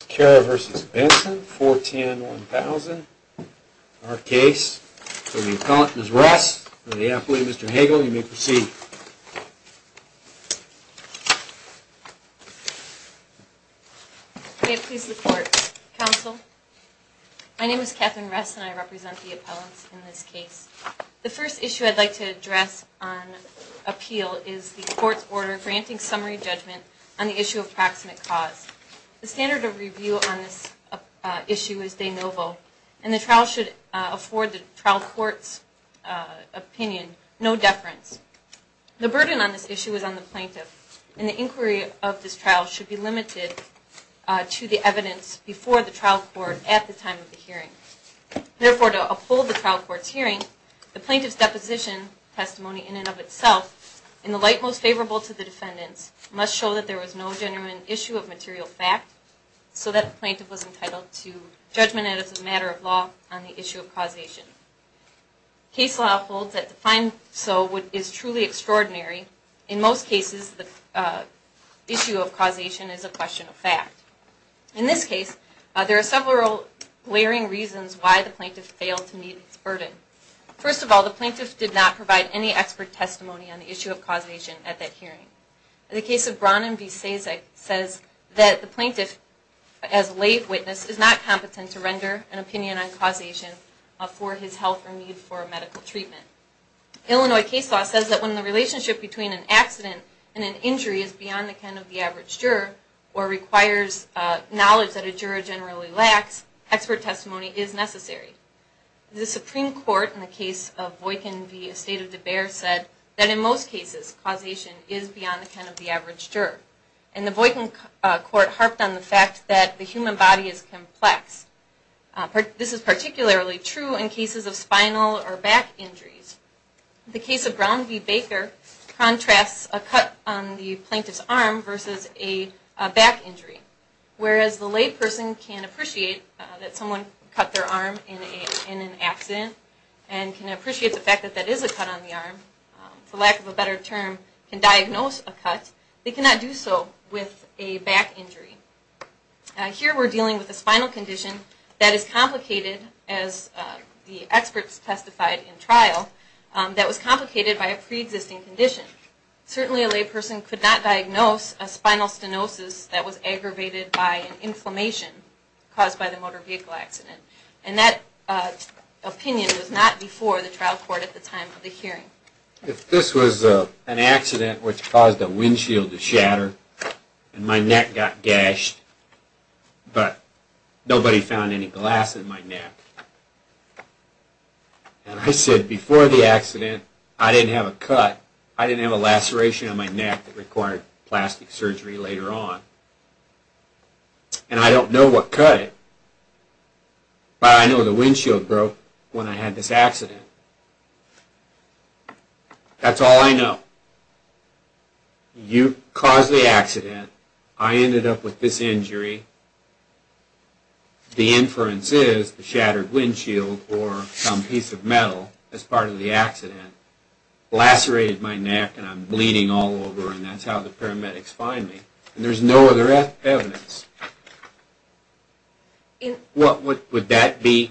410-1000. Our case for the appellant Ms. Ress and the appellate Mr. Hagel, you may proceed. May it please the court, counsel. My name is Katherine Ress and I represent the appellants in this case. The first issue I'd like to address on appeal is the court's order granting summary judgment on the issue of proximate cause. The standard of review on this issue is de novo, and the trial should afford the trial court's opinion no deference. The burden on this issue is on the plaintiff, and the inquiry of this trial should be limited to the evidence before the trial court at the time of the hearing. Therefore, to uphold the trial court's hearing, the plaintiff's deposition testimony in and of itself, in the light most favorable to the defendants, must show that there was no genuine issue of material fact, so that the plaintiff was entitled to judgment as a matter of law on the issue of causation. Case law holds that to find so is truly extraordinary. In most cases the issue of causation is a question of fact. In this case, there are several glaring reasons why the plaintiff failed to meet its burden. First of all, the plaintiff did not provide any expert testimony on the issue of causation at that hearing. In the case of Brannan v. Sasek, it says that the plaintiff, as a lay witness, is not competent to render an opinion on causation for his health or need for medical treatment. Illinois case law says that when the relationship between an accident and an injury is beyond the ken of the average juror, or requires knowledge that a juror generally lacks, expert testimony is necessary. The Supreme Court, in the case of Voykin v. Estate of De Beers, said that in most cases causation is beyond the ken of the average juror. And the Voykin court harped on the fact that the human body is complex. This is particularly true in cases of spinal or back injuries. The case of Brown v. Baker contrasts a cut on the plaintiff's arm versus a back injury. Whereas the lay person can appreciate that someone cut their arm in an accident and can appreciate the fact that that is a cut on the arm, for lack of a better term, can diagnose a cut, they cannot do so with a back injury. Here we're dealing with a spinal condition that is complicated, as the experts testified in trial, that was complicated by a pre-existing condition. Certainly a lay person could not diagnose a spinal stenosis that was aggravated by an inflammation caused by the motor vehicle accident. And that opinion was not before the trial court at the time of the hearing. If this was an accident which caused a windshield to shatter, and my neck got gashed, but nobody found any glass in my neck, and I said before the accident I didn't have a cut, I didn't have a laceration on my neck that required plastic surgery later on, and I don't know what cut it, but I know the windshield broke when I had this accident. That's all I know. You caused the accident, I ended up with this injury. The inference is the shattered windshield or some piece of metal as part of the accident lacerated my neck and I'm bleeding all over, and that's how the paramedics find me, and there's no other evidence. Would that be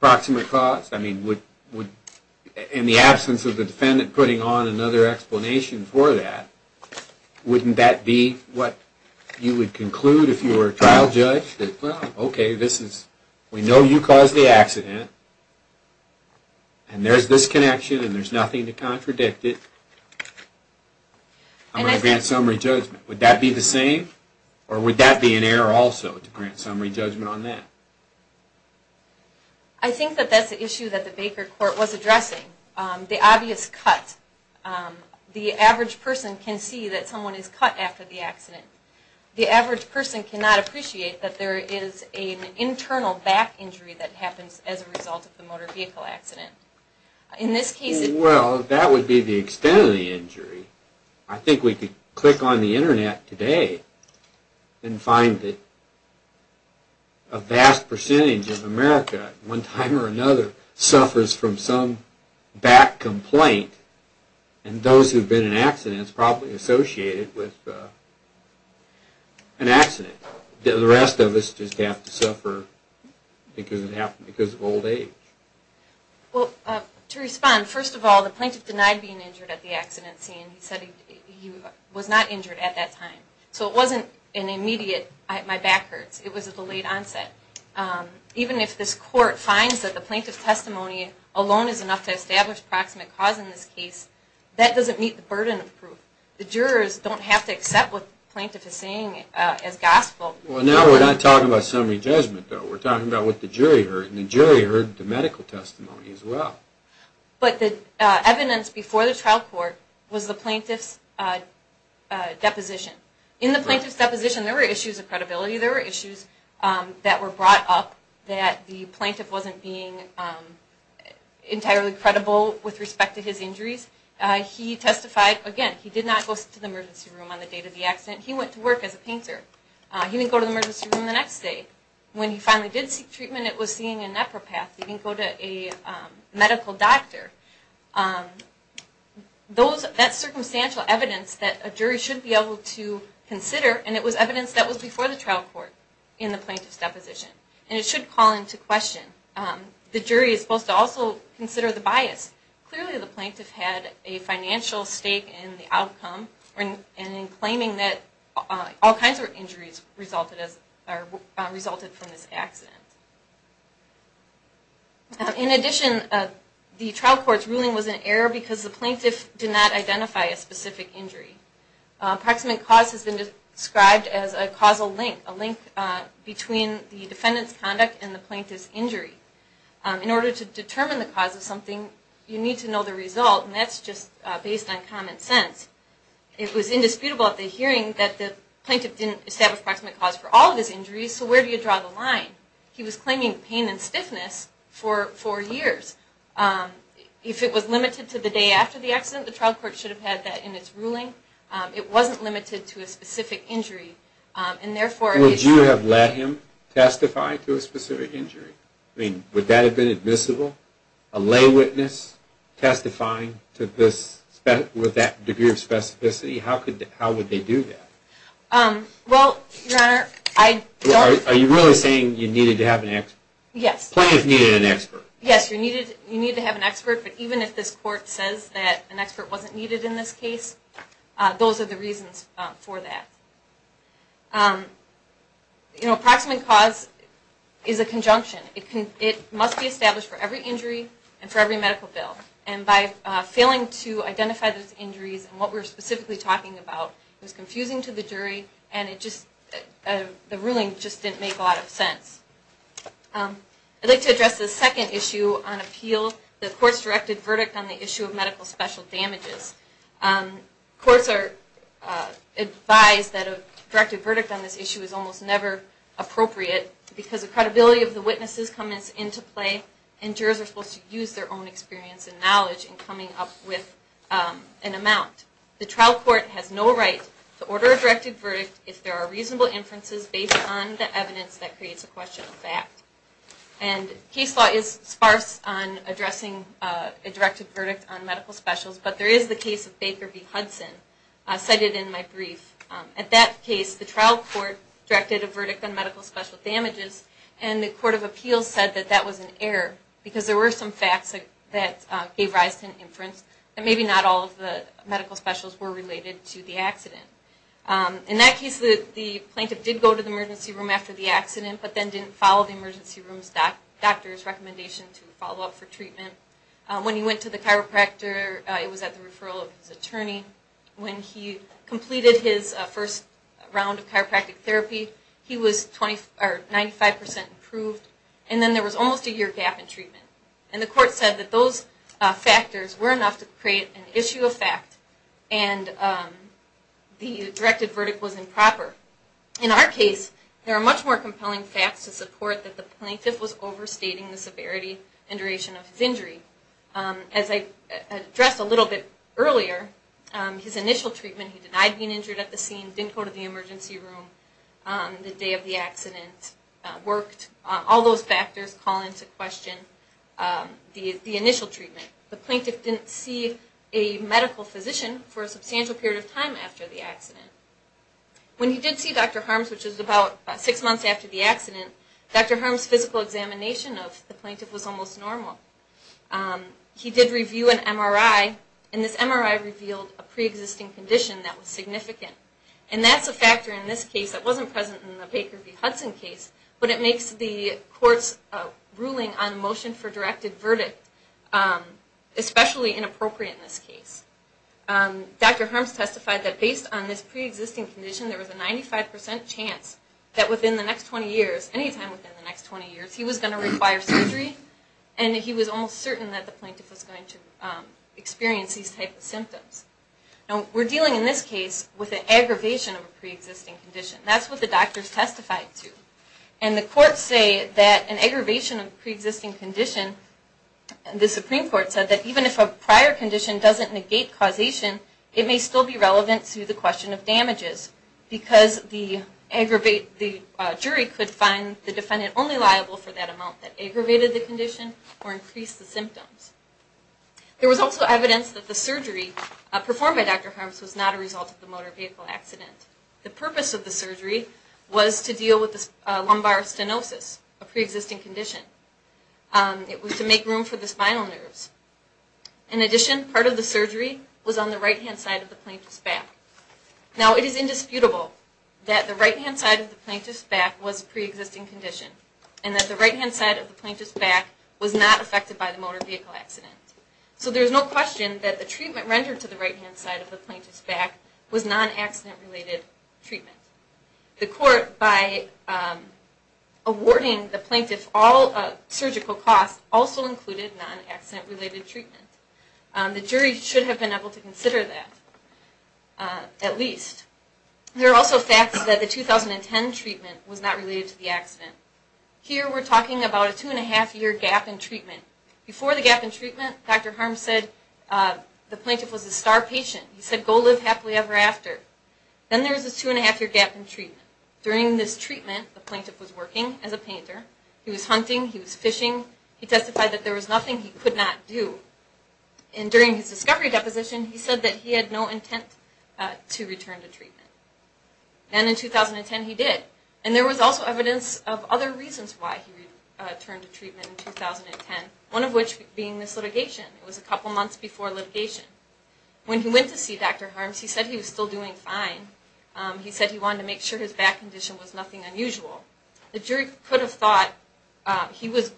proximate cause? In the absence of the defendant putting on another explanation for that, wouldn't that be what you would conclude if you were a trial judge? Okay, we know you caused the accident, and there's this connection and there's nothing to contradict it. I'm going to grant summary judgment. Would that be the same, or would that be an error also to grant summary judgment on that? I think that that's the issue that the Baker court was addressing. The obvious cut. The average person can see that someone is cut after the accident. The average person cannot appreciate that there is an internal back injury that happens as a result of the motor vehicle accident. Well, that would be the extent of the injury. I think we could click on the internet today and find that a vast percentage of America at one time or another suffers from some back complaint, and those who have been in accidents are probably associated with an accident. The rest of us just have to suffer because of old age. Well, to respond, first of all, the plaintiff denied being injured at the accident scene. He said he was not injured at that time, so it wasn't an immediate, my back hurts. It was a delayed onset. Even if this court finds that the plaintiff's testimony alone is enough to establish proximate cause in this case, that doesn't meet the burden of proof. The jurors don't have to accept what the plaintiff is saying as gospel. Well, now we're not talking about summary judgment, though. We're talking about what the jury heard, and the jury heard the medical testimony as well. But the evidence before the trial court was the plaintiff's deposition. In the plaintiff's deposition, there were issues of credibility. There were issues that were brought up that the plaintiff wasn't being entirely credible with respect to his injuries. He testified, again, he did not go to the emergency room on the day of the accident. He went to work as a painter. He didn't go to the emergency room the next day. When he finally did seek treatment, it was seeing a nephropath. He didn't go to a medical doctor. That's circumstantial evidence that a jury should be able to consider, and it was evidence that was before the trial court in the plaintiff's deposition. And it should call into question. The jury is supposed to also consider the bias. Clearly, the plaintiff had a financial stake in the outcome, and in claiming that all kinds of injuries resulted from this accident. In addition, the trial court's ruling was an error because the plaintiff did not identify a specific injury. Approximate cause has been described as a causal link, a link between the defendant's conduct and the plaintiff's injury. In order to determine the cause of something, you need to know the result, and that's just based on common sense. It was indisputable at the hearing that the plaintiff didn't establish approximate cause for all of his injuries, so where do you draw the line? He was claiming pain and stiffness for four years. If it was limited to the day after the accident, the trial court should have had that in its ruling. It wasn't limited to a specific injury. Would you have let him testify to a specific injury? Would that have been admissible? A lay witness testifying with that degree of specificity, how would they do that? Well, Your Honor, I don't... Are you really saying you needed to have an expert? Yes. The plaintiff needed an expert. Yes, you need to have an expert, but even if this court says that an expert wasn't needed in this case, those are the reasons for that. Approximate cause is a conjunction. It must be established for every injury and for every medical bill, and by failing to identify those injuries and what we're specifically talking about, it was confusing to the jury, and the ruling just didn't make a lot of sense. I'd like to address the second issue on appeal, the court's directed verdict on the issue of medical special damages. Courts are advised that a directed verdict on this issue is almost never appropriate because the credibility of the witnesses comes into play, and jurors are supposed to use their own experience and knowledge in coming up with an amount. The trial court has no right to order a directed verdict if there are reasonable inferences based on the evidence that creates a question of fact. Case law is sparse on addressing a directed verdict on medical specials, but there is the case of Baker v. Hudson cited in my brief. At that case, the trial court directed a verdict on medical special damages, and the court of appeals said that that was an error because there were some facts that gave rise to an inference that maybe not all of the medical specials were related to the accident. In that case, the plaintiff did go to the emergency room after the accident, but then didn't follow the emergency room doctor's recommendation to follow up for treatment. When he went to the chiropractor, it was at the referral of his attorney. When he completed his first round of chiropractic therapy, he was 95% approved, and then there was almost a year gap in treatment. And the court said that those factors were enough to create an issue of fact, and the directed verdict was improper. In our case, there are much more compelling facts to support that the plaintiff was overstating the severity and duration of his injury. As I addressed a little bit earlier, his initial treatment, he denied being injured at the scene, didn't go to the emergency room the day of the accident, all those factors call into question the initial treatment. The plaintiff didn't see a medical physician for a substantial period of time after the accident. When he did see Dr. Harms, which was about six months after the accident, Dr. Harms' physical examination of the plaintiff was almost normal. He did review an MRI, and this MRI revealed a pre-existing condition that was significant. And that's a factor in this case that wasn't present in the Baker v. Hudson case, but it makes the court's ruling on motion for directed verdict especially inappropriate in this case. Dr. Harms testified that based on this pre-existing condition, there was a 95% chance that within the next 20 years, any time within the next 20 years, he was going to require surgery, and he was almost certain that the plaintiff was going to experience these type of symptoms. Now, we're dealing in this case with an aggravation of a pre-existing condition. That's what the doctors testified to. And the courts say that an aggravation of a pre-existing condition, the Supreme Court said that even if a prior condition doesn't negate causation, it may still be relevant to the question of damages, because the jury could find the defendant only liable for that amount that aggravated the condition or increased the symptoms. There was also evidence that the surgery performed by Dr. Harms was not a result of the motor vehicle accident. The purpose of the surgery was to deal with the lumbar stenosis, a pre-existing condition. It was to make room for the spinal nerves. In addition, part of the surgery was on the right-hand side of the plaintiff's back. Now, it is indisputable that the right-hand side of the plaintiff's back was a pre-existing condition, and that the right-hand side of the plaintiff's back was not affected by the motor vehicle accident. So there's no question that the treatment rendered to the right-hand side of the plaintiff's back was non-accident-related treatment. The court, by awarding the plaintiff all surgical costs, also included non-accident-related treatment. The jury should have been able to consider that, at least. There are also facts that the 2010 treatment was not related to the accident. Here, we're talking about a two-and-a-half-year gap in treatment. Before the gap in treatment, Dr. Harms said the plaintiff was a star patient. He said, go live happily ever after. Then there was a two-and-a-half-year gap in treatment. During this treatment, the plaintiff was working as a painter. He was hunting. He was fishing. He testified that there was nothing he could not do. And during his discovery deposition, he said that he had no intent to return to treatment. And in 2010, he did. And there was also evidence of other reasons why he returned to treatment in 2010, one of which being this litigation. It was a couple months before litigation. When he went to see Dr. Harms, he said he was still doing fine. He said he wanted to make sure his back condition was nothing unusual. The jury could have thought he was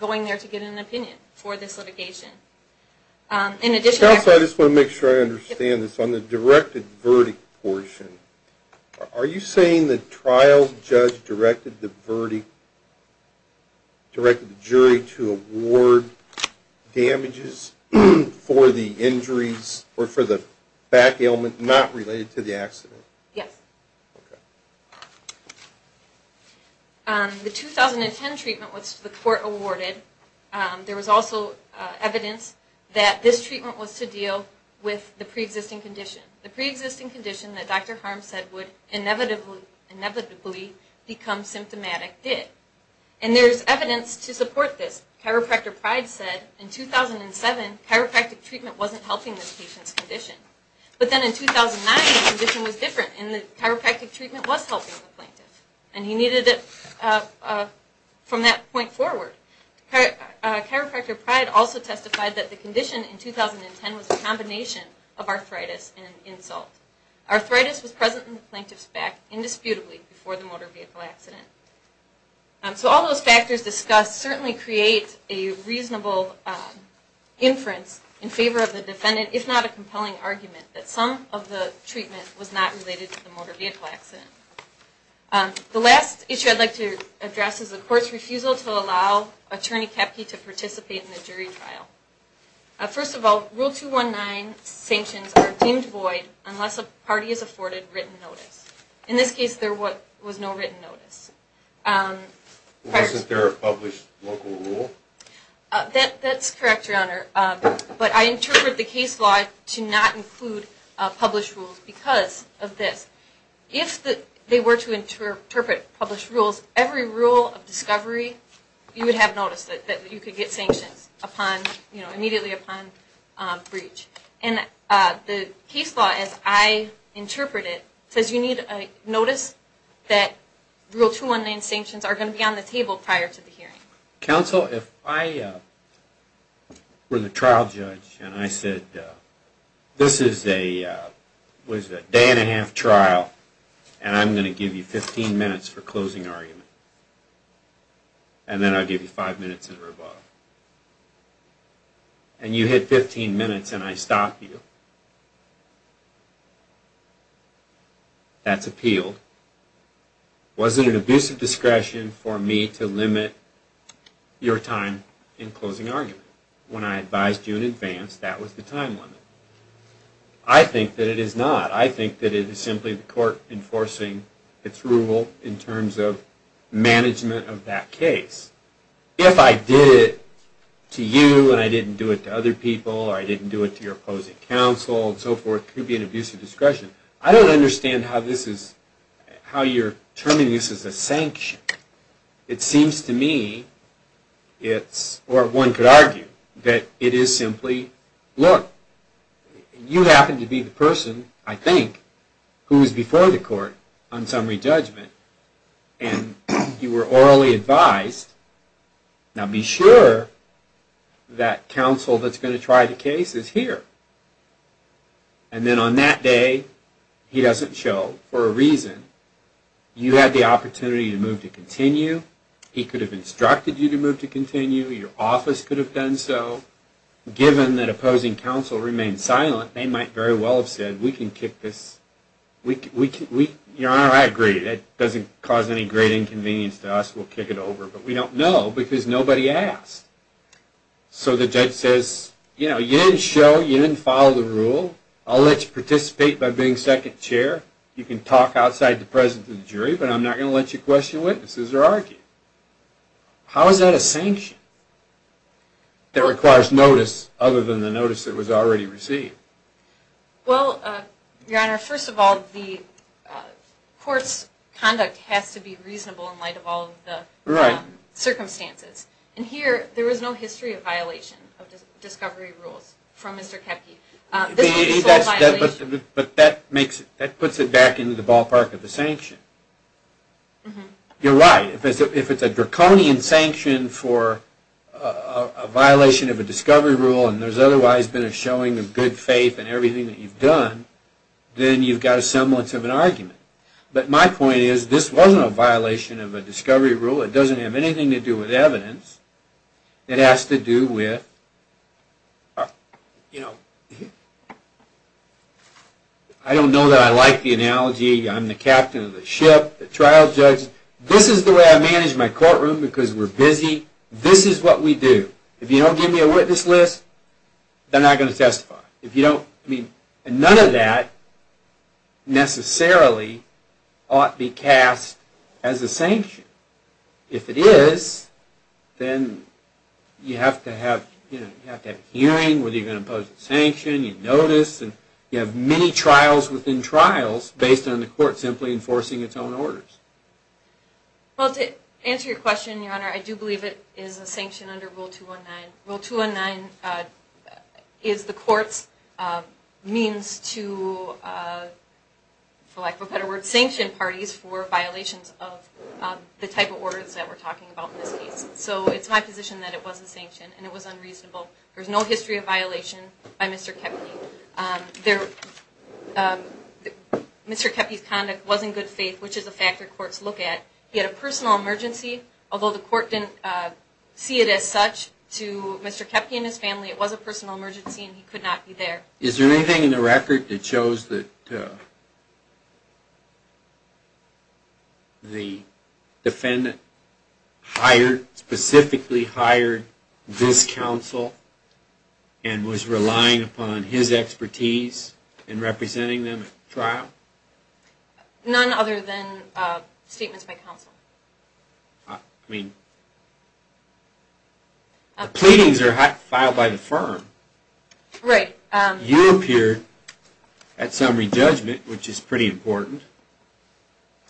going there to get an opinion for this litigation. In addition, I just want to make sure I understand this. On the directed verdict portion, are you saying the trial judge directed the verdict, directed the jury to award damages for the injuries or for the back ailment not related to the accident? Yes. Okay. The 2010 treatment was to the court awarded. There was also evidence that this treatment was to deal with the pre-existing condition. The pre-existing condition that Dr. Harms said would inevitably become symptomatic did. And there's evidence to support this. Chiropractor Pride said in 2007, chiropractic treatment wasn't helping this patient's condition. But then in 2009, the condition was different and the chiropractic treatment was helping the plaintiff. And he needed it from that point forward. Chiropractor Pride also testified that the condition in 2010 was a combination of arthritis and insult. Arthritis was present in the plaintiff's back indisputably before the motor vehicle accident. So all those factors discussed certainly create a reasonable inference in favor of the defendant, if not a compelling argument that some of the treatment was not related to the motor vehicle accident. The last issue I'd like to address is the court's refusal to allow Attorney Kepke to participate in the jury trial. First of all, Rule 219 sanctions are deemed void unless a party has afforded written notice. In this case, there was no written notice. Wasn't there a published local rule? That's correct, Your Honor. But I interpret the case law to not include published rules because of this. If they were to interpret published rules, every rule of discovery, you would have noticed that you could get sanctions immediately upon breach. And the case law, as I interpret it, says you need notice that Rule 219 sanctions are going to be on the table prior to the hearing. Counsel, if I were the trial judge and I said, this is a day-and-a-half trial, and I'm going to give you 15 minutes for closing argument, and then I'll give you five minutes in rebuttal, and you hit 15 minutes and I stop you, that's appealed. Was it an abusive discretion for me to limit your time in closing argument? When I advised you in advance, that was the time limit. I think that it is not. I think that it is simply the court enforcing its rule in terms of management of that case. If I did it to you and I didn't do it to other people or I didn't do it to your opposing counsel and so forth, it could be an abusive discretion. I don't understand how you're terming this as a sanction. It seems to me, or one could argue, that it is simply, look, you happen to be the person, I think, who is before the court on summary judgment, and you were orally advised, now be sure that counsel that's going to try the case is here. And then on that day, he doesn't show, for a reason. You had the opportunity to move to continue. He could have instructed you to move to continue. Your office could have done so. Given that opposing counsel remained silent, they might very well have said, we can kick this. Your Honor, I agree. That doesn't cause any great inconvenience to us. We'll kick it over. But we don't know because nobody asked. So the judge says, you know, you didn't show, you didn't follow the rule. I'll let you participate by being second chair. You can talk outside the presence of the jury, but I'm not going to let you question witnesses or argue. How is that a sanction that requires notice other than the notice that was already received? Well, Your Honor, first of all, the court's conduct has to be reasonable in light of all the circumstances. And here, there is no history of violation of discovery rules from Mr. Koepke. But that puts it back into the ballpark of the sanction. You're right. If it's a draconian sanction for a violation of a discovery rule and there's otherwise been a showing of good faith in everything that you've done, then you've got a semblance of an argument. But my point is, this wasn't a violation of a discovery rule. It doesn't have anything to do with evidence. It has to do with, you know, I don't know that I like the analogy. I'm the captain of the ship, the trial judge. This is the way I manage my courtroom because we're busy. This is what we do. If you don't give me a witness list, then I'm not going to testify. None of that necessarily ought to be cast as a sanction. If it is, then you have to have hearing whether you're going to impose a sanction, you notice, and you have many trials within trials based on the court simply enforcing its own orders. Well, to answer your question, Your Honor, I do believe it is a sanction under Rule 219. Rule 219 is the court's means to, for lack of a better word, sanction parties for violations of the type of orders that we're talking about in this case. So it's my position that it was a sanction and it was unreasonable. There's no history of violation by Mr. Kepney. Mr. Kepney's conduct was in good faith, which is a factor courts look at. He had a personal emergency, although the court didn't see it as such. To Mr. Kepney and his family, it was a personal emergency and he could not be there. Is there anything in the record that shows that the defendant hired, specifically hired this counsel and was relying upon his expertise in representing them at trial? None other than statements by counsel. I mean, the pleadings are filed by the firm. Right. You appeared at some re-judgment, which is pretty important.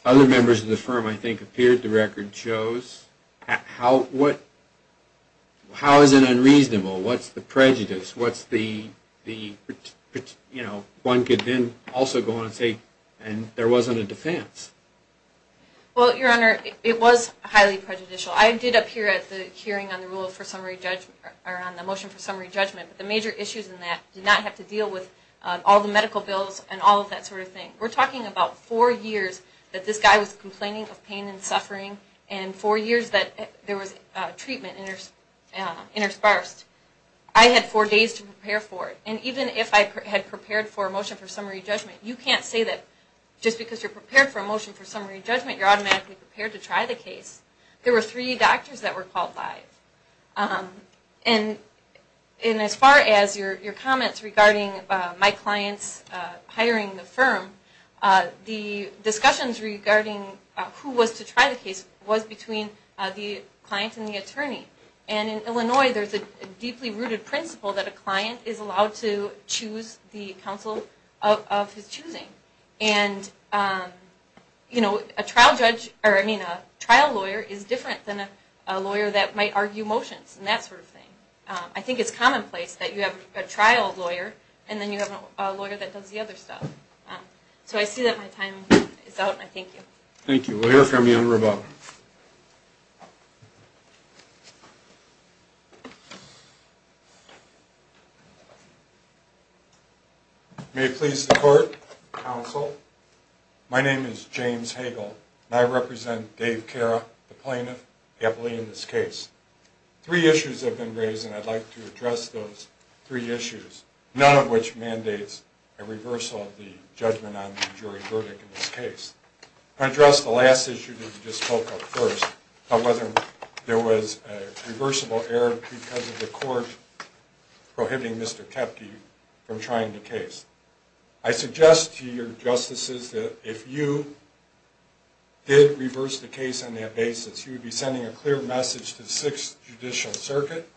Other members of the firm, I think, appeared. The record shows how is it unreasonable? What's the prejudice? One could then also go on and say there wasn't a defense. Well, Your Honor, it was highly prejudicial. I did appear at the hearing on the motion for summary judgment. The major issues in that did not have to deal with all the medical bills and all of that sort of thing. We're talking about four years that this guy was complaining of pain and suffering and four years that there was treatment interspersed. I had four days to prepare for it. And even if I had prepared for a motion for summary judgment, you can't say that just because you're prepared for a motion for summary judgment, you're automatically prepared to try the case. There were three doctors that were called live. And as far as your comments regarding my clients hiring the firm, the discussions regarding who was to try the case was between the client and the attorney. And in Illinois, there's a deeply rooted principle that a client is allowed to choose the counsel of his choosing. And, you know, a trial lawyer is different than a lawyer that might argue motions and that sort of thing. I think it's commonplace that you have a trial lawyer and then you have a lawyer that does the other stuff. So I see that my time is out, and I thank you. Thank you. We'll hear from you in a moment. May it please the court, counsel. My name is James Hagel, and I represent Dave Cara, the plaintiff, happily in this case. Three issues have been raised, and I'd like to address those three issues, none of which mandates a reversal of the judgment on the jury verdict in this case. To address the last issue that you just spoke of first, whether there was a reversible error because of the court prohibiting Mr. Kepke from trying the case. I suggest to your justices that if you did reverse the case on that basis, you would be sending a clear message to the Sixth Judicial Circuit.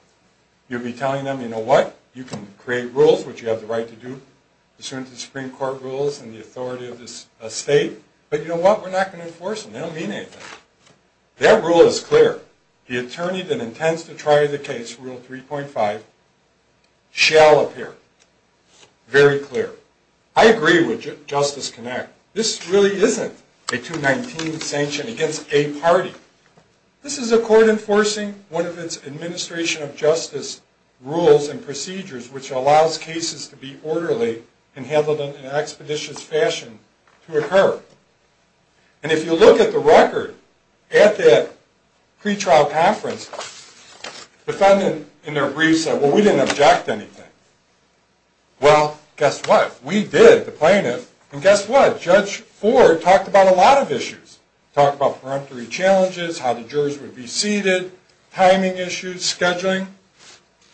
You'd be telling them, you know what, you can create rules, which you have the right to do, pursuant to the Supreme Court rules and the authority of the state, but you know what, we're not going to enforce them. They don't mean anything. Their rule is clear. The attorney that intends to try the case, Rule 3.5, shall appear. Very clear. I agree with Justice Knapp. This really isn't a 219 sanction against a party. This is a court enforcing one of its administration of justice rules and procedures, which allows cases to be orderly and handled in an expeditious fashion to occur. And if you look at the record at that pretrial conference, the defendant in their brief said, well, we didn't object to anything. Well, guess what? We did, the plaintiff, and guess what? Judge Ford talked about a lot of issues. Talked about peremptory challenges, how the jurors would be seated, timing issues, scheduling,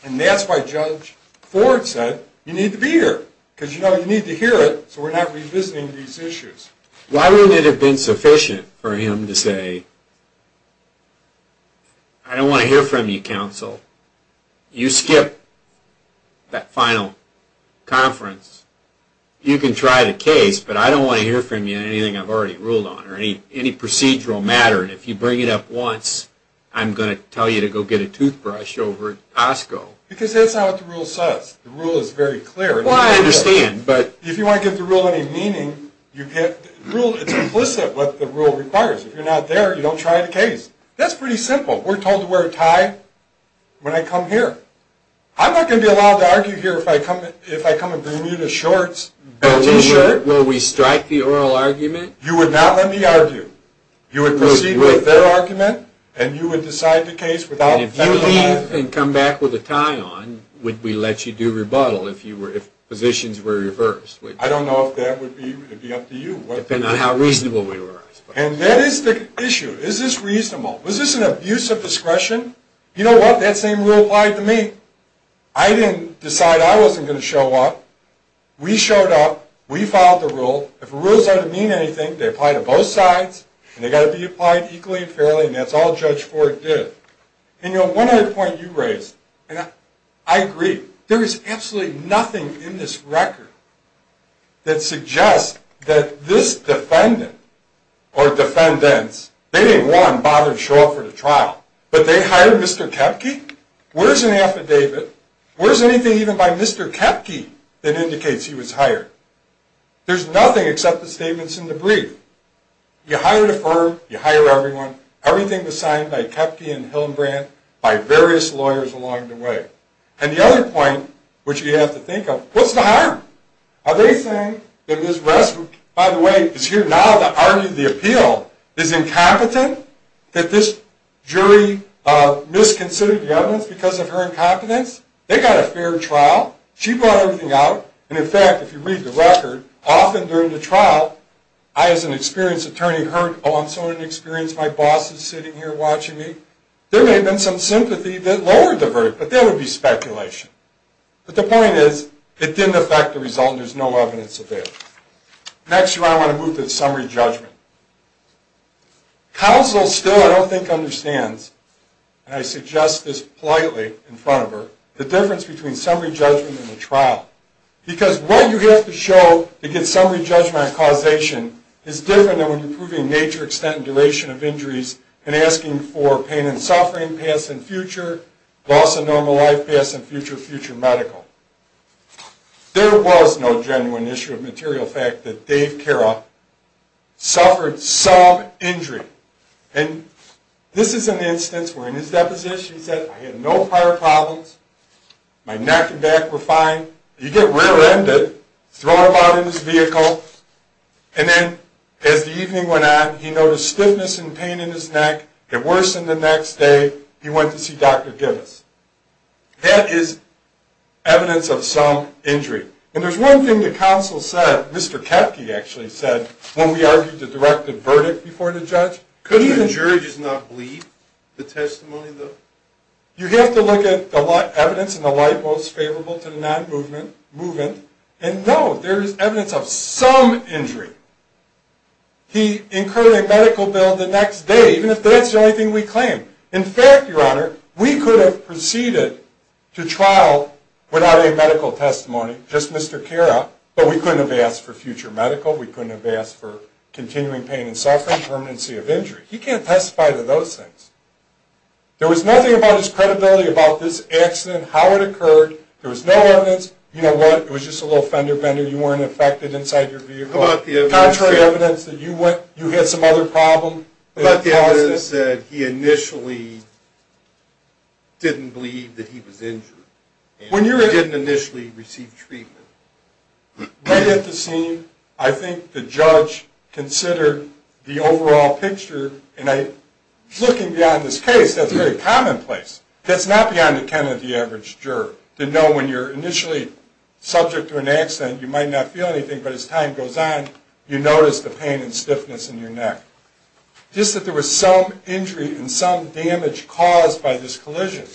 and that's why Judge Ford said, you need to be here, because, you know, you need to hear it, so we're not revisiting these issues. Why wouldn't it have been sufficient for him to say, I don't want to hear from you, counsel, you skipped that final conference, you can try the case, but I don't want to hear from you anything I've already ruled on or any procedural matter, and if you bring it up once, I'm going to tell you to go get a toothbrush over at Costco. Because that's not what the rule says. The rule is very clear. Well, I understand, but... If you want to give the rule any meaning, it's implicit what the rule requires. If you're not there, you don't try the case. That's pretty simple. We're told to wear a tie when I come here. I'm not going to be allowed to argue here if I come in Bermuda shorts. Will we strike the oral argument? You would not let me argue. You would proceed with their argument, and you would decide the case without... And if you leave and come back with a tie on, would we let you do rebuttal if positions were reversed? I don't know if that would be up to you. Depending on how reasonable we were. And that is the issue. Is this reasonable? Was this an abuse of discretion? You know what, that same rule applied to me. I didn't decide I wasn't going to show up. We showed up. We filed the rule. If a rule doesn't mean anything, they apply to both sides, and they've got to be applied equally and fairly, and that's all Judge Ford did. And, you know, one other point you raised, and I agree. There is absolutely nothing in this record that suggests that this defendant or defendants, they didn't want to bother to show up for the trial, but they hired Mr. Koepke? Where's an affidavit? Where's anything even by Mr. Koepke that indicates he was hired? There's nothing except the statements in the brief. You hired a firm. You hire everyone. Everything was signed by Koepke and Hillenbrand, by various lawyers along the way. And the other point, which you have to think of, what's the harm? Are they saying that Ms. Ress, who, by the way, is here now to argue the appeal, is incompetent, that this jury misconsidered the evidence because of her incompetence? They got a fair trial. She brought everything out. And, in fact, if you read the record, often during the trial, I as an experienced attorney heard, oh, I'm so inexperienced, my boss is sitting here watching me. There may have been some sympathy that lowered the verdict, but that would be speculation. But the point is, it didn't affect the result, and there's no evidence of it. Next, I want to move to the summary judgment. Counsel still, I don't think, understands, and I suggest this politely in front of her, the difference between summary judgment and the trial. Because what you have to show to get summary judgment on causation is different than when you're proving major extent and duration of injuries and asking for pain and suffering past and future, loss of normal life past and future, future medical. There was no genuine issue of material fact that Dave Kira suffered some injury. And this is an instance where, in his deposition, he said, I had no prior problems. My neck and back were fine. You get rear-ended, throw him out of his vehicle, and then, as the evening went on, he noticed stiffness and pain in his neck. It worsened the next day. He went to see Dr. Gibbous. That is evidence of some injury. And there's one thing the counsel said, Mr. Koepke actually said, when we argued the directive verdict before the judge. Couldn't the jury just not believe the testimony, though? You have to look at the evidence in the light most favorable to the non-movement, and no, there is evidence of some injury. He incurred a medical bill the next day, even if that's the only thing we claim. In fact, Your Honor, we could have proceeded to trial without a medical testimony, just Mr. Kira, but we couldn't have asked for future medical. We couldn't have asked for continuing pain and suffering, permanency of injury. He can't testify to those things. There was nothing about his credibility, about this accident, how it occurred. There was no evidence. You know what? It was just a little fender-bender. You weren't affected inside your vehicle. Contrary evidence that you had some other problem. But the other is that he initially didn't believe that he was injured and didn't initially receive treatment. Right at the scene, I think the judge considered the overall picture, and looking beyond this case, that's very commonplace. That's not beyond the account of the average juror, to know when you're initially subject to an accident, you might not feel anything, but as time goes on, you notice the pain and stiffness in your neck. Just that there was some injury and some damage caused by this collision.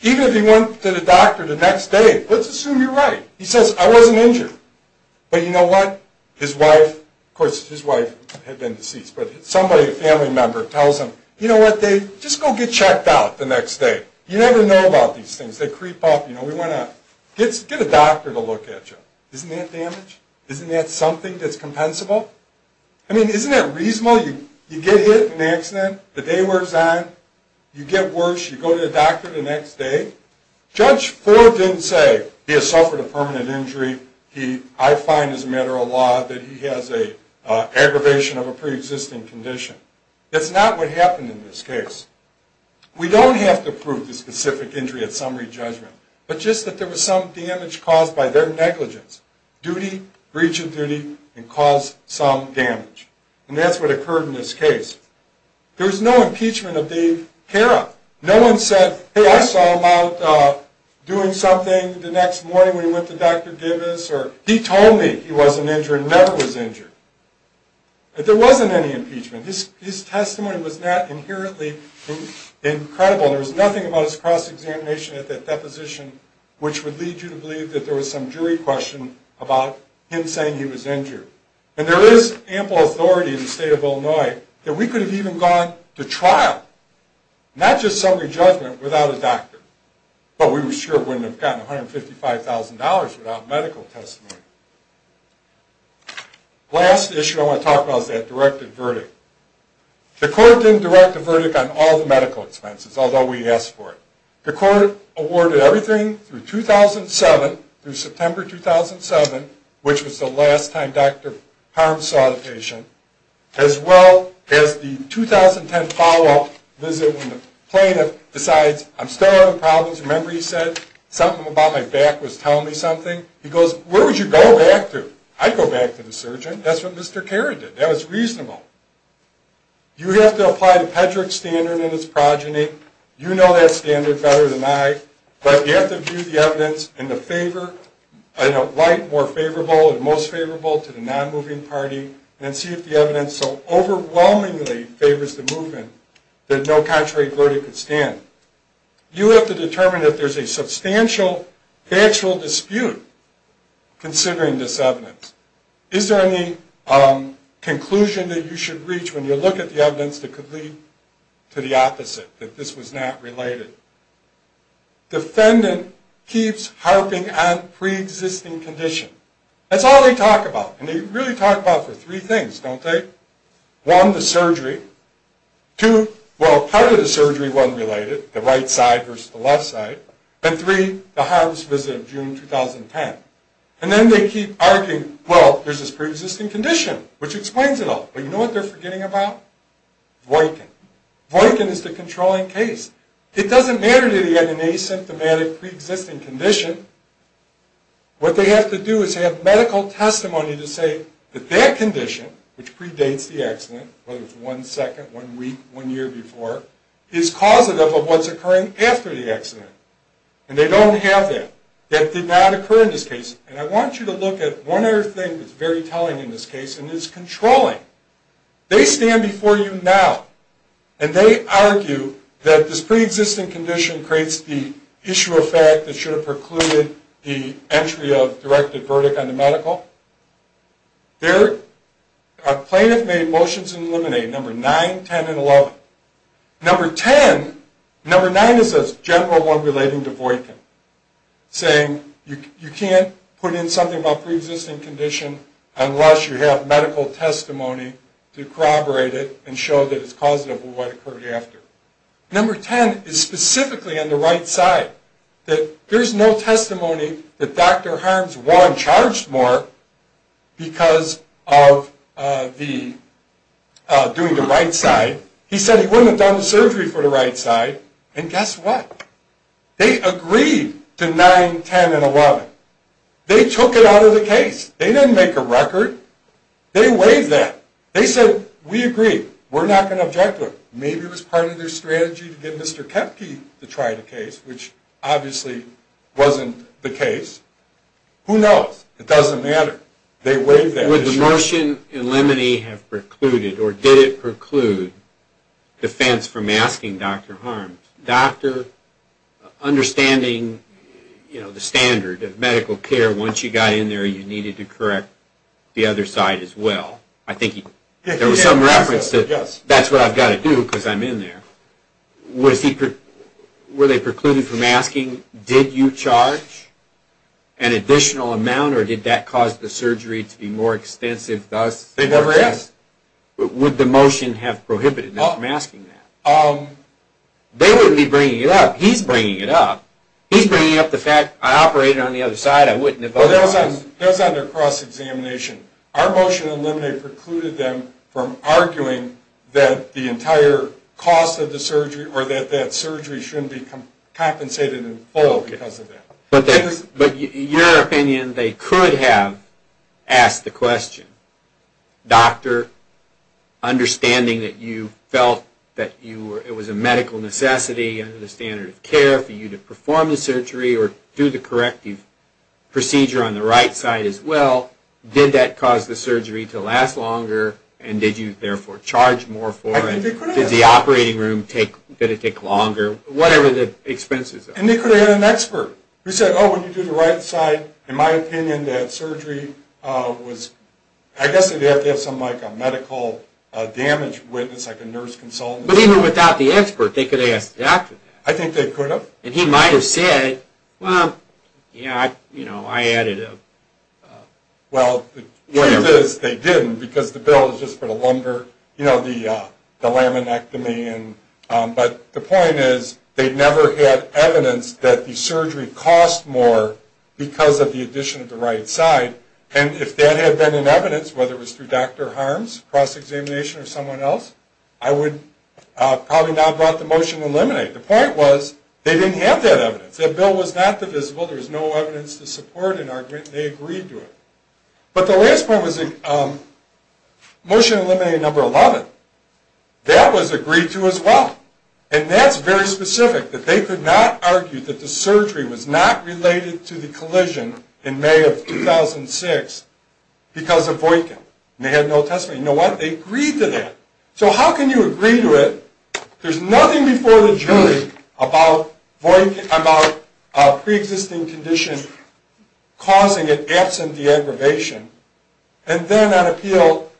Even if he went to the doctor the next day, let's assume you're right. He says, I wasn't injured. But you know what? His wife, of course his wife had been deceased, but somebody, a family member, tells him, you know what, Dave, just go get checked out the next day. You never know about these things. They creep up. You know, we want to get a doctor to look at you. Isn't that damage? Isn't that something that's compensable? I mean, isn't that reasonable? You get hit in an accident, the day wears on, you get worse, you go to the doctor the next day. Judge Ford didn't say, he has suffered a permanent injury, I find as a matter of law that he has an aggravation of a preexisting condition. That's not what happened in this case. We don't have to prove the specific injury at summary judgment, but just that there was some damage caused by their negligence, duty, breach of duty, and caused some damage. And that's what occurred in this case. There was no impeachment of Dave Cara. No one said, hey, I saw him out doing something the next morning when he went to Dr. Gibbous. He told me he wasn't injured, never was injured. There wasn't any impeachment. His testimony was not inherently incredible. There was nothing about his cross-examination at that deposition which would lead you to believe that there was some jury question about him saying he was injured. And there is ample authority in the state of Illinois that we could have even gone to trial, not just summary judgment, without a doctor. But we sure wouldn't have gotten $155,000 without medical testimony. The last issue I want to talk about is that directed verdict. The court didn't direct a verdict on all the medical expenses, although we asked for it. The court awarded everything through 2007, through September 2007, which was the last time Dr. Harms saw the patient, as well as the 2010 follow-up visit when the plaintiff decides, I'm still having problems. Remember he said something about my back was telling me something? He goes, where would you go back to? I'd go back to the surgeon. That's what Mr. Cara did. That was reasonable. You have to apply the Pedrick standard in his progeny. You know that standard better than I. But you have to view the evidence in a way more favorable and most favorable to the non-moving party, and see if the evidence so overwhelmingly favors the movement that no contrary verdict would stand. You have to determine if there's a substantial factual dispute considering this evidence. Is there any conclusion that you should reach when you look at the evidence that could lead to the opposite, that this was not related? Defendant keeps harping on pre-existing condition. That's all they talk about. And they really talk about it for three things, don't they? One, the surgery. Two, well, part of the surgery wasn't related, the right side versus the left side. And three, the Harms visit of June 2010. And then they keep arguing, well, there's this pre-existing condition, which explains it all. But you know what they're forgetting about? Voykin. Voykin is the controlling case. It doesn't matter that he had an asymptomatic pre-existing condition. What they have to do is have medical testimony to say that that condition, which predates the accident, whether it's one second, one week, one year before, is causative of what's occurring after the accident. And they don't have that. That did not occur in this case. And I want you to look at one other thing that's very telling in this case, and it's controlling. They stand before you now, and they argue that this pre-existing condition creates the issue of fact that should have precluded the entry of directed verdict on the medical. A plaintiff made motions in eliminate, number 9, 10, and 11. Number 10, number 9 is a general one relating to Voykin, saying you can't put in something about pre-existing condition unless you have medical testimony to corroborate it and show that it's causative of what occurred after. Number 10 is specifically on the right side, that there's no testimony that Dr. Harms won't charge more because of doing the right side. He said he wouldn't have done the surgery for the right side, and guess what? They agreed to 9, 10, and 11. They took it out of the case. They didn't make a record. They waived that. They said, we agree. We're not going to object to it. Maybe it was part of their strategy to get Mr. Koepke to try the case, which obviously wasn't the case. Who knows? It doesn't matter. They waived that. Would the motion eliminate have precluded, or did it preclude, defense from asking Dr. Harms? Understanding the standard of medical care, once you got in there, you needed to correct the other side as well. I think there was some reference to that's what I've got to do because I'm in there. Were they precluded from asking, did you charge an additional amount, or did that cause the surgery to be more extensive thus? It never is. Would the motion have prohibited them from asking that? They wouldn't be bringing it up. He's bringing it up. He's bringing up the fact I operated on the other side. That was on their cross-examination. Our motion eliminate precluded them from arguing that the entire cost of the surgery or that that surgery shouldn't be compensated in full because of that. But your opinion, they could have asked the question. Doctor, understanding that you felt that it was a medical necessity to have surgery or do the corrective procedure on the right side as well, did that cause the surgery to last longer, and did you, therefore, charge more for it? Did the operating room take longer? Whatever the expenses are. And they could have had an expert who said, oh, when you do the right side, in my opinion, that surgery was, I guess they'd have to have some medical damage witness, like a nurse consultant. But even without the expert, they could have asked the doctor that. I think they could have. And he might have said, well, you know, I added a... Well, the truth is they didn't because the bill is just for the lumber, you know, the laminectomy. But the point is they never had evidence that the surgery cost more because of the addition of the right side. And if that had been in evidence, whether it was through Dr. Harms, cross-examination, or someone else, I would probably not have brought the motion to eliminate. The point was they didn't have that evidence. That bill was not divisible. There was no evidence to support an argument. They agreed to it. But the last point was motion to eliminate number 11. That was agreed to as well. And that's very specific, that they could not argue that the surgery was not related to the collision in May of 2006 because of Boykin. And they had no testimony. You know what? They agreed to that. So how can you agree to it? There's nothing before the jury about Boykin, about a preexisting condition causing it absent the aggravation. And then on appeal,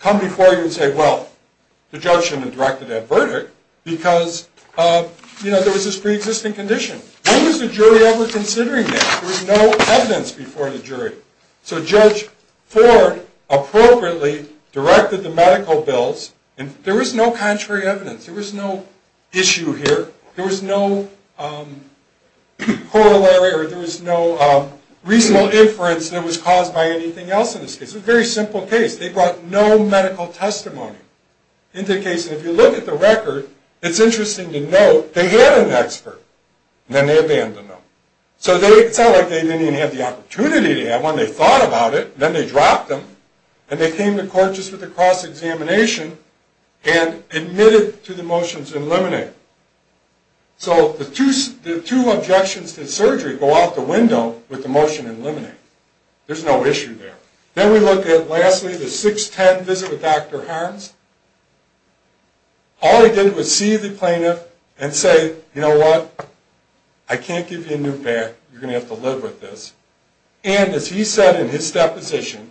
come before you and say, well, the judge shouldn't have directed that verdict because, you know, there was this preexisting condition. When was the jury ever considering that? There was no evidence before the jury. So Judge Ford appropriately directed the medical bills. And there was no contrary evidence. There was no issue here. There was no corollary or there was no reasonable inference that was caused by anything else in this case. It was a very simple case. They brought no medical testimony into the case. And if you look at the record, it's interesting to note they had an expert and then they abandoned them. So it's not like they didn't even have the opportunity to have one. They thought about it. Then they dropped them. And they came to court just with a cross-examination and admitted to the motions in limine. So the two objections to surgery go out the window with the motion in limine. There's no issue there. Then we look at, lastly, the 6-10 visit with Dr. Harms. All he did was see the plaintiff and say, you know what? I can't give you a new bath. You're going to have to live with this. And as he said in his deposition,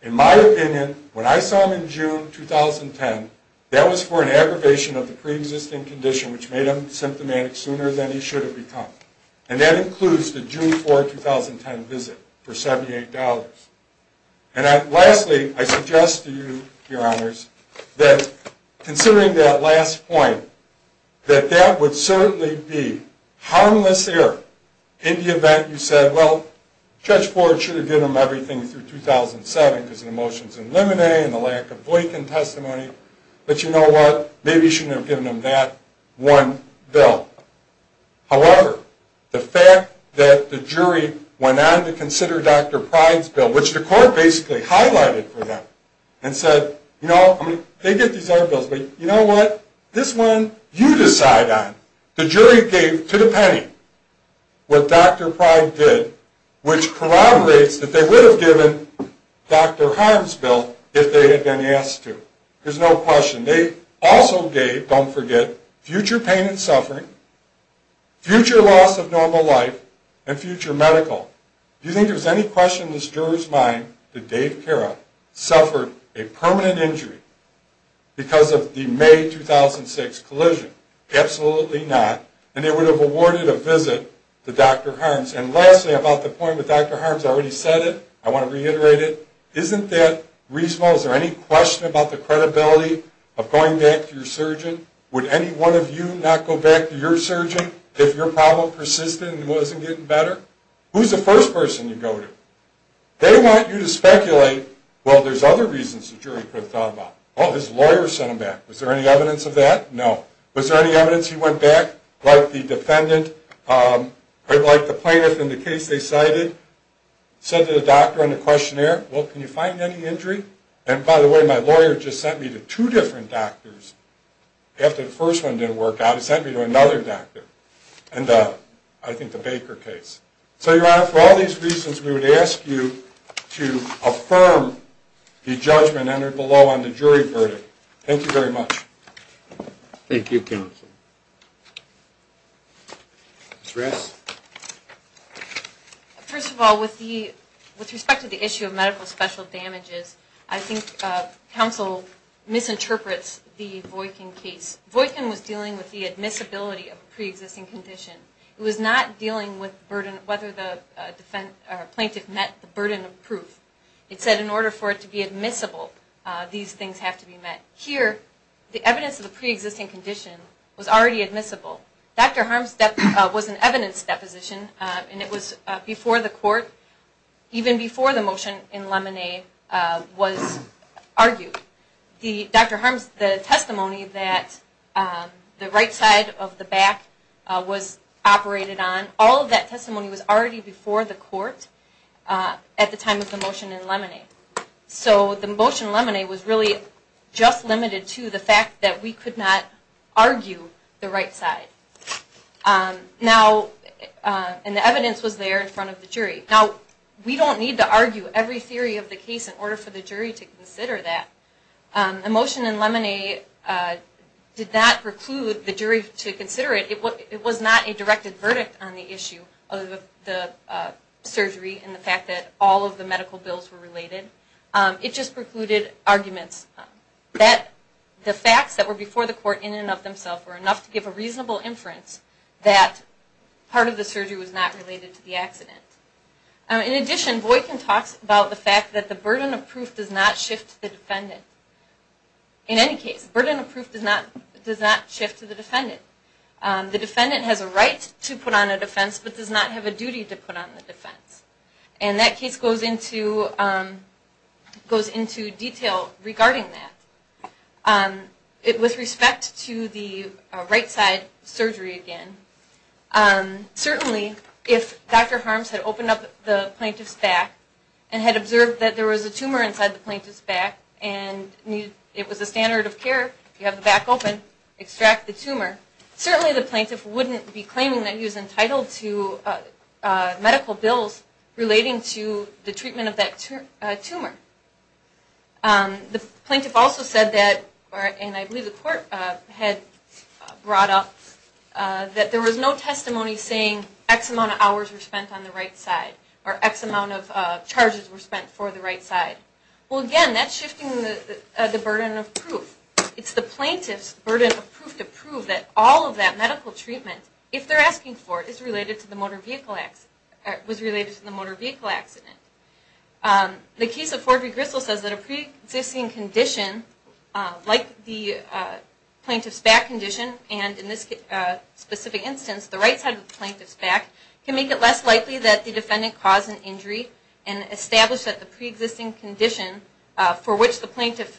in my opinion, when I saw him in June 2010, that was for an aggravation of the preexisting condition, which made him symptomatic sooner than he should have become. And that includes the June 4, 2010 visit for $78. And lastly, I suggest to you, Your Honors, that considering that last point, that that would certainly be harmless error in the event you said, well, Judge Ford should have given them everything through 2007 because of the motions in limine and the lack of Boykin testimony. But you know what? Maybe you shouldn't have given them that one bill. However, the fact that the jury went on to consider Dr. Pryde's bill, which the court basically highlighted for them and said, you know, they get these other bills, but you know what? This one you decide on. The jury gave to the penny what Dr. Pryde did, which corroborates that they would have given Dr. Harms' bill if they had been asked to. There's no question. They also gave, don't forget, future pain and suffering, future loss of normal life, and future medical. Do you think there's any question in this juror's mind that Dave Cara suffered a permanent injury because of the May 2006 collision? Absolutely not. And they would have awarded a visit to Dr. Harms. And lastly, about the point that Dr. Harms already said it, I want to reiterate it. Isn't that reasonable? Is there any question about the credibility of going back to your surgeon? Would any one of you not go back to your surgeon if your problem persisted and wasn't getting better? Who's the first person you go to? They want you to speculate, well, there's other reasons the jury could have thought about. Oh, his lawyer sent him back. Was there any evidence of that? No. Was there any evidence he went back, like the defendant, like the plaintiff in the case they cited, said to the doctor on the questionnaire, well, can you find any injury? And by the way, my lawyer just sent me to two different doctors. After the first one didn't work out, he sent me to another doctor. And I think the Baker case. So, Your Honor, for all these reasons, we would ask you to affirm the judgment entered below on the jury verdict. Thank you very much. Thank you, counsel. Ms. Raskin. First of all, with respect to the issue of medical special damages, I think counsel misinterprets the Voykin case. Voykin was dealing with the admissibility of a preexisting condition. It was not dealing with whether the plaintiff met the burden of proof. It said in order for it to be admissible, these things have to be met. Here, the evidence of the preexisting condition was already admissible. Dr. Harms' was an evidence deposition, and it was before the court, even before the motion in Lemonade was argued. Dr. Harms' testimony that the right side of the back was operated on, all of that testimony was already before the court at the time of the motion in Lemonade. So the motion in Lemonade was really just limited to the fact that we could not argue the right side. Now, and the evidence was there in front of the jury. Now, we don't need to argue every theory of the case in order for the jury to consider that. The motion in Lemonade did not preclude the jury to consider it. It was not a directed verdict on the issue of the surgery and the fact that all of the medical bills were related. It just precluded arguments that the facts that were before the court in and of themselves were enough to give a reasonable inference that part of the surgery was not related to the accident. In addition, Boykin talks about the fact that the burden of proof does not shift to the defendant. In any case, the burden of proof does not shift to the defendant. The defendant has a right to put on a defense but does not have a duty to put on a defense. And that case goes into detail regarding that. With respect to the right side surgery again, certainly if Dr. Harms had opened up the plaintiff's back and had observed that there was a tumor inside the plaintiff's back and it was a standard of care, you have the back open, extract the tumor, certainly the plaintiff wouldn't be claiming that he was entitled to medical bills relating to the treatment of that tumor. The plaintiff also said that, and I believe the court had brought up, that there was no testimony saying X amount of hours were spent on the right side or X amount of charges were spent for the right side. Well again, that's shifting the burden of proof. It's the plaintiff's burden of proof to prove that all of that medical treatment, if they're asking for it, was related to the motor vehicle accident. The case of Ford v. Gristle says that a pre-existing condition, like the plaintiff's back condition and in this specific instance, the right side of the plaintiff's back, can make it less likely that the defendant caused an injury and establish that the pre-existing condition for which the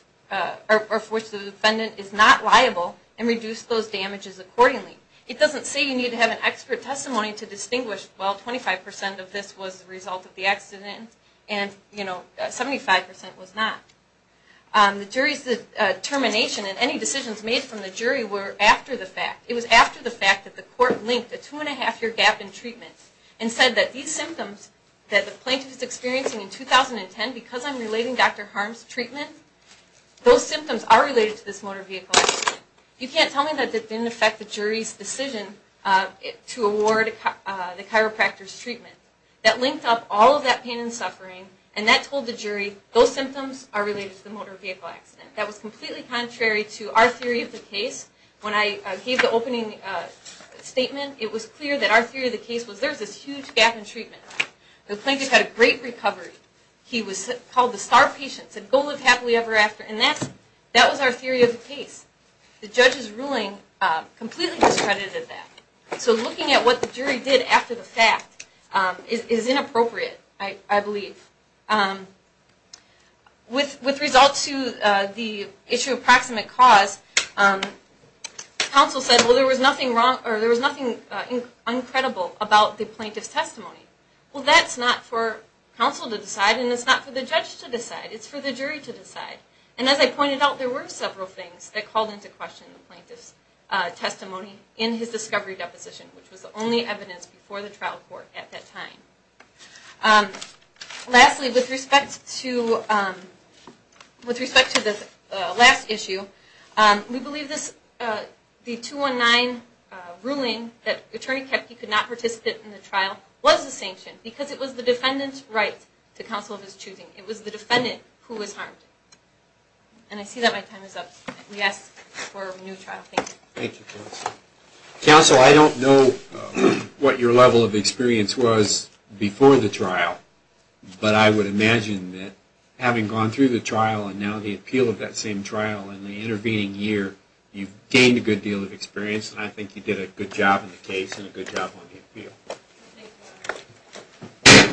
defendant is not liable and reduce those damages accordingly. It doesn't say you need to have an expert testimony to distinguish, well, 25% of this was the result of the accident and 75% was not. The jury's determination and any decisions made from the jury were after the fact. It was after the fact that the court linked a two and a half year gap in treatment and said that these symptoms that the plaintiff is experiencing in 2010, because I'm relating Dr. Harm's treatment, those symptoms are related to this motor vehicle accident. You can't tell me that it didn't affect the jury's decision to award the chiropractor's treatment. That linked up all of that pain and suffering and that told the jury those symptoms are related to the motor vehicle accident. That was completely contrary to our theory of the case. When I gave the opening statement, it was clear that our theory of the case was there's this huge gap in treatment. The plaintiff had a great recovery. He was called the star patient, said go live happily ever after, and that was our theory of the case. The judge's ruling completely discredited that. So looking at what the jury did after the fact is inappropriate, I believe. With result to the issue of proximate cause, counsel said there was nothing uncredible about the plaintiff's testimony. Well, that's not for counsel to decide and it's not for the judge to decide. It's for the jury to decide. As I pointed out, there were several things that called into question the plaintiff's testimony in his discovery deposition, which was the only evidence before the trial court at that time. Lastly, with respect to the last issue, we believe the 219 ruling that attorney Kepke could not participate in the trial was a sanction because it was the defendant's right to counsel of his choosing. It was the defendant who was harmed. And I see that my time is up. We ask for a new trial. Thank you. Thank you, counsel. Counsel, I don't know what your level of experience was before the trial, but I would imagine that having gone through the trial and now the appeal of that same trial in the intervening year, you've gained a good deal of experience and I think you did a good job in the case and a good job on the appeal. Thank you.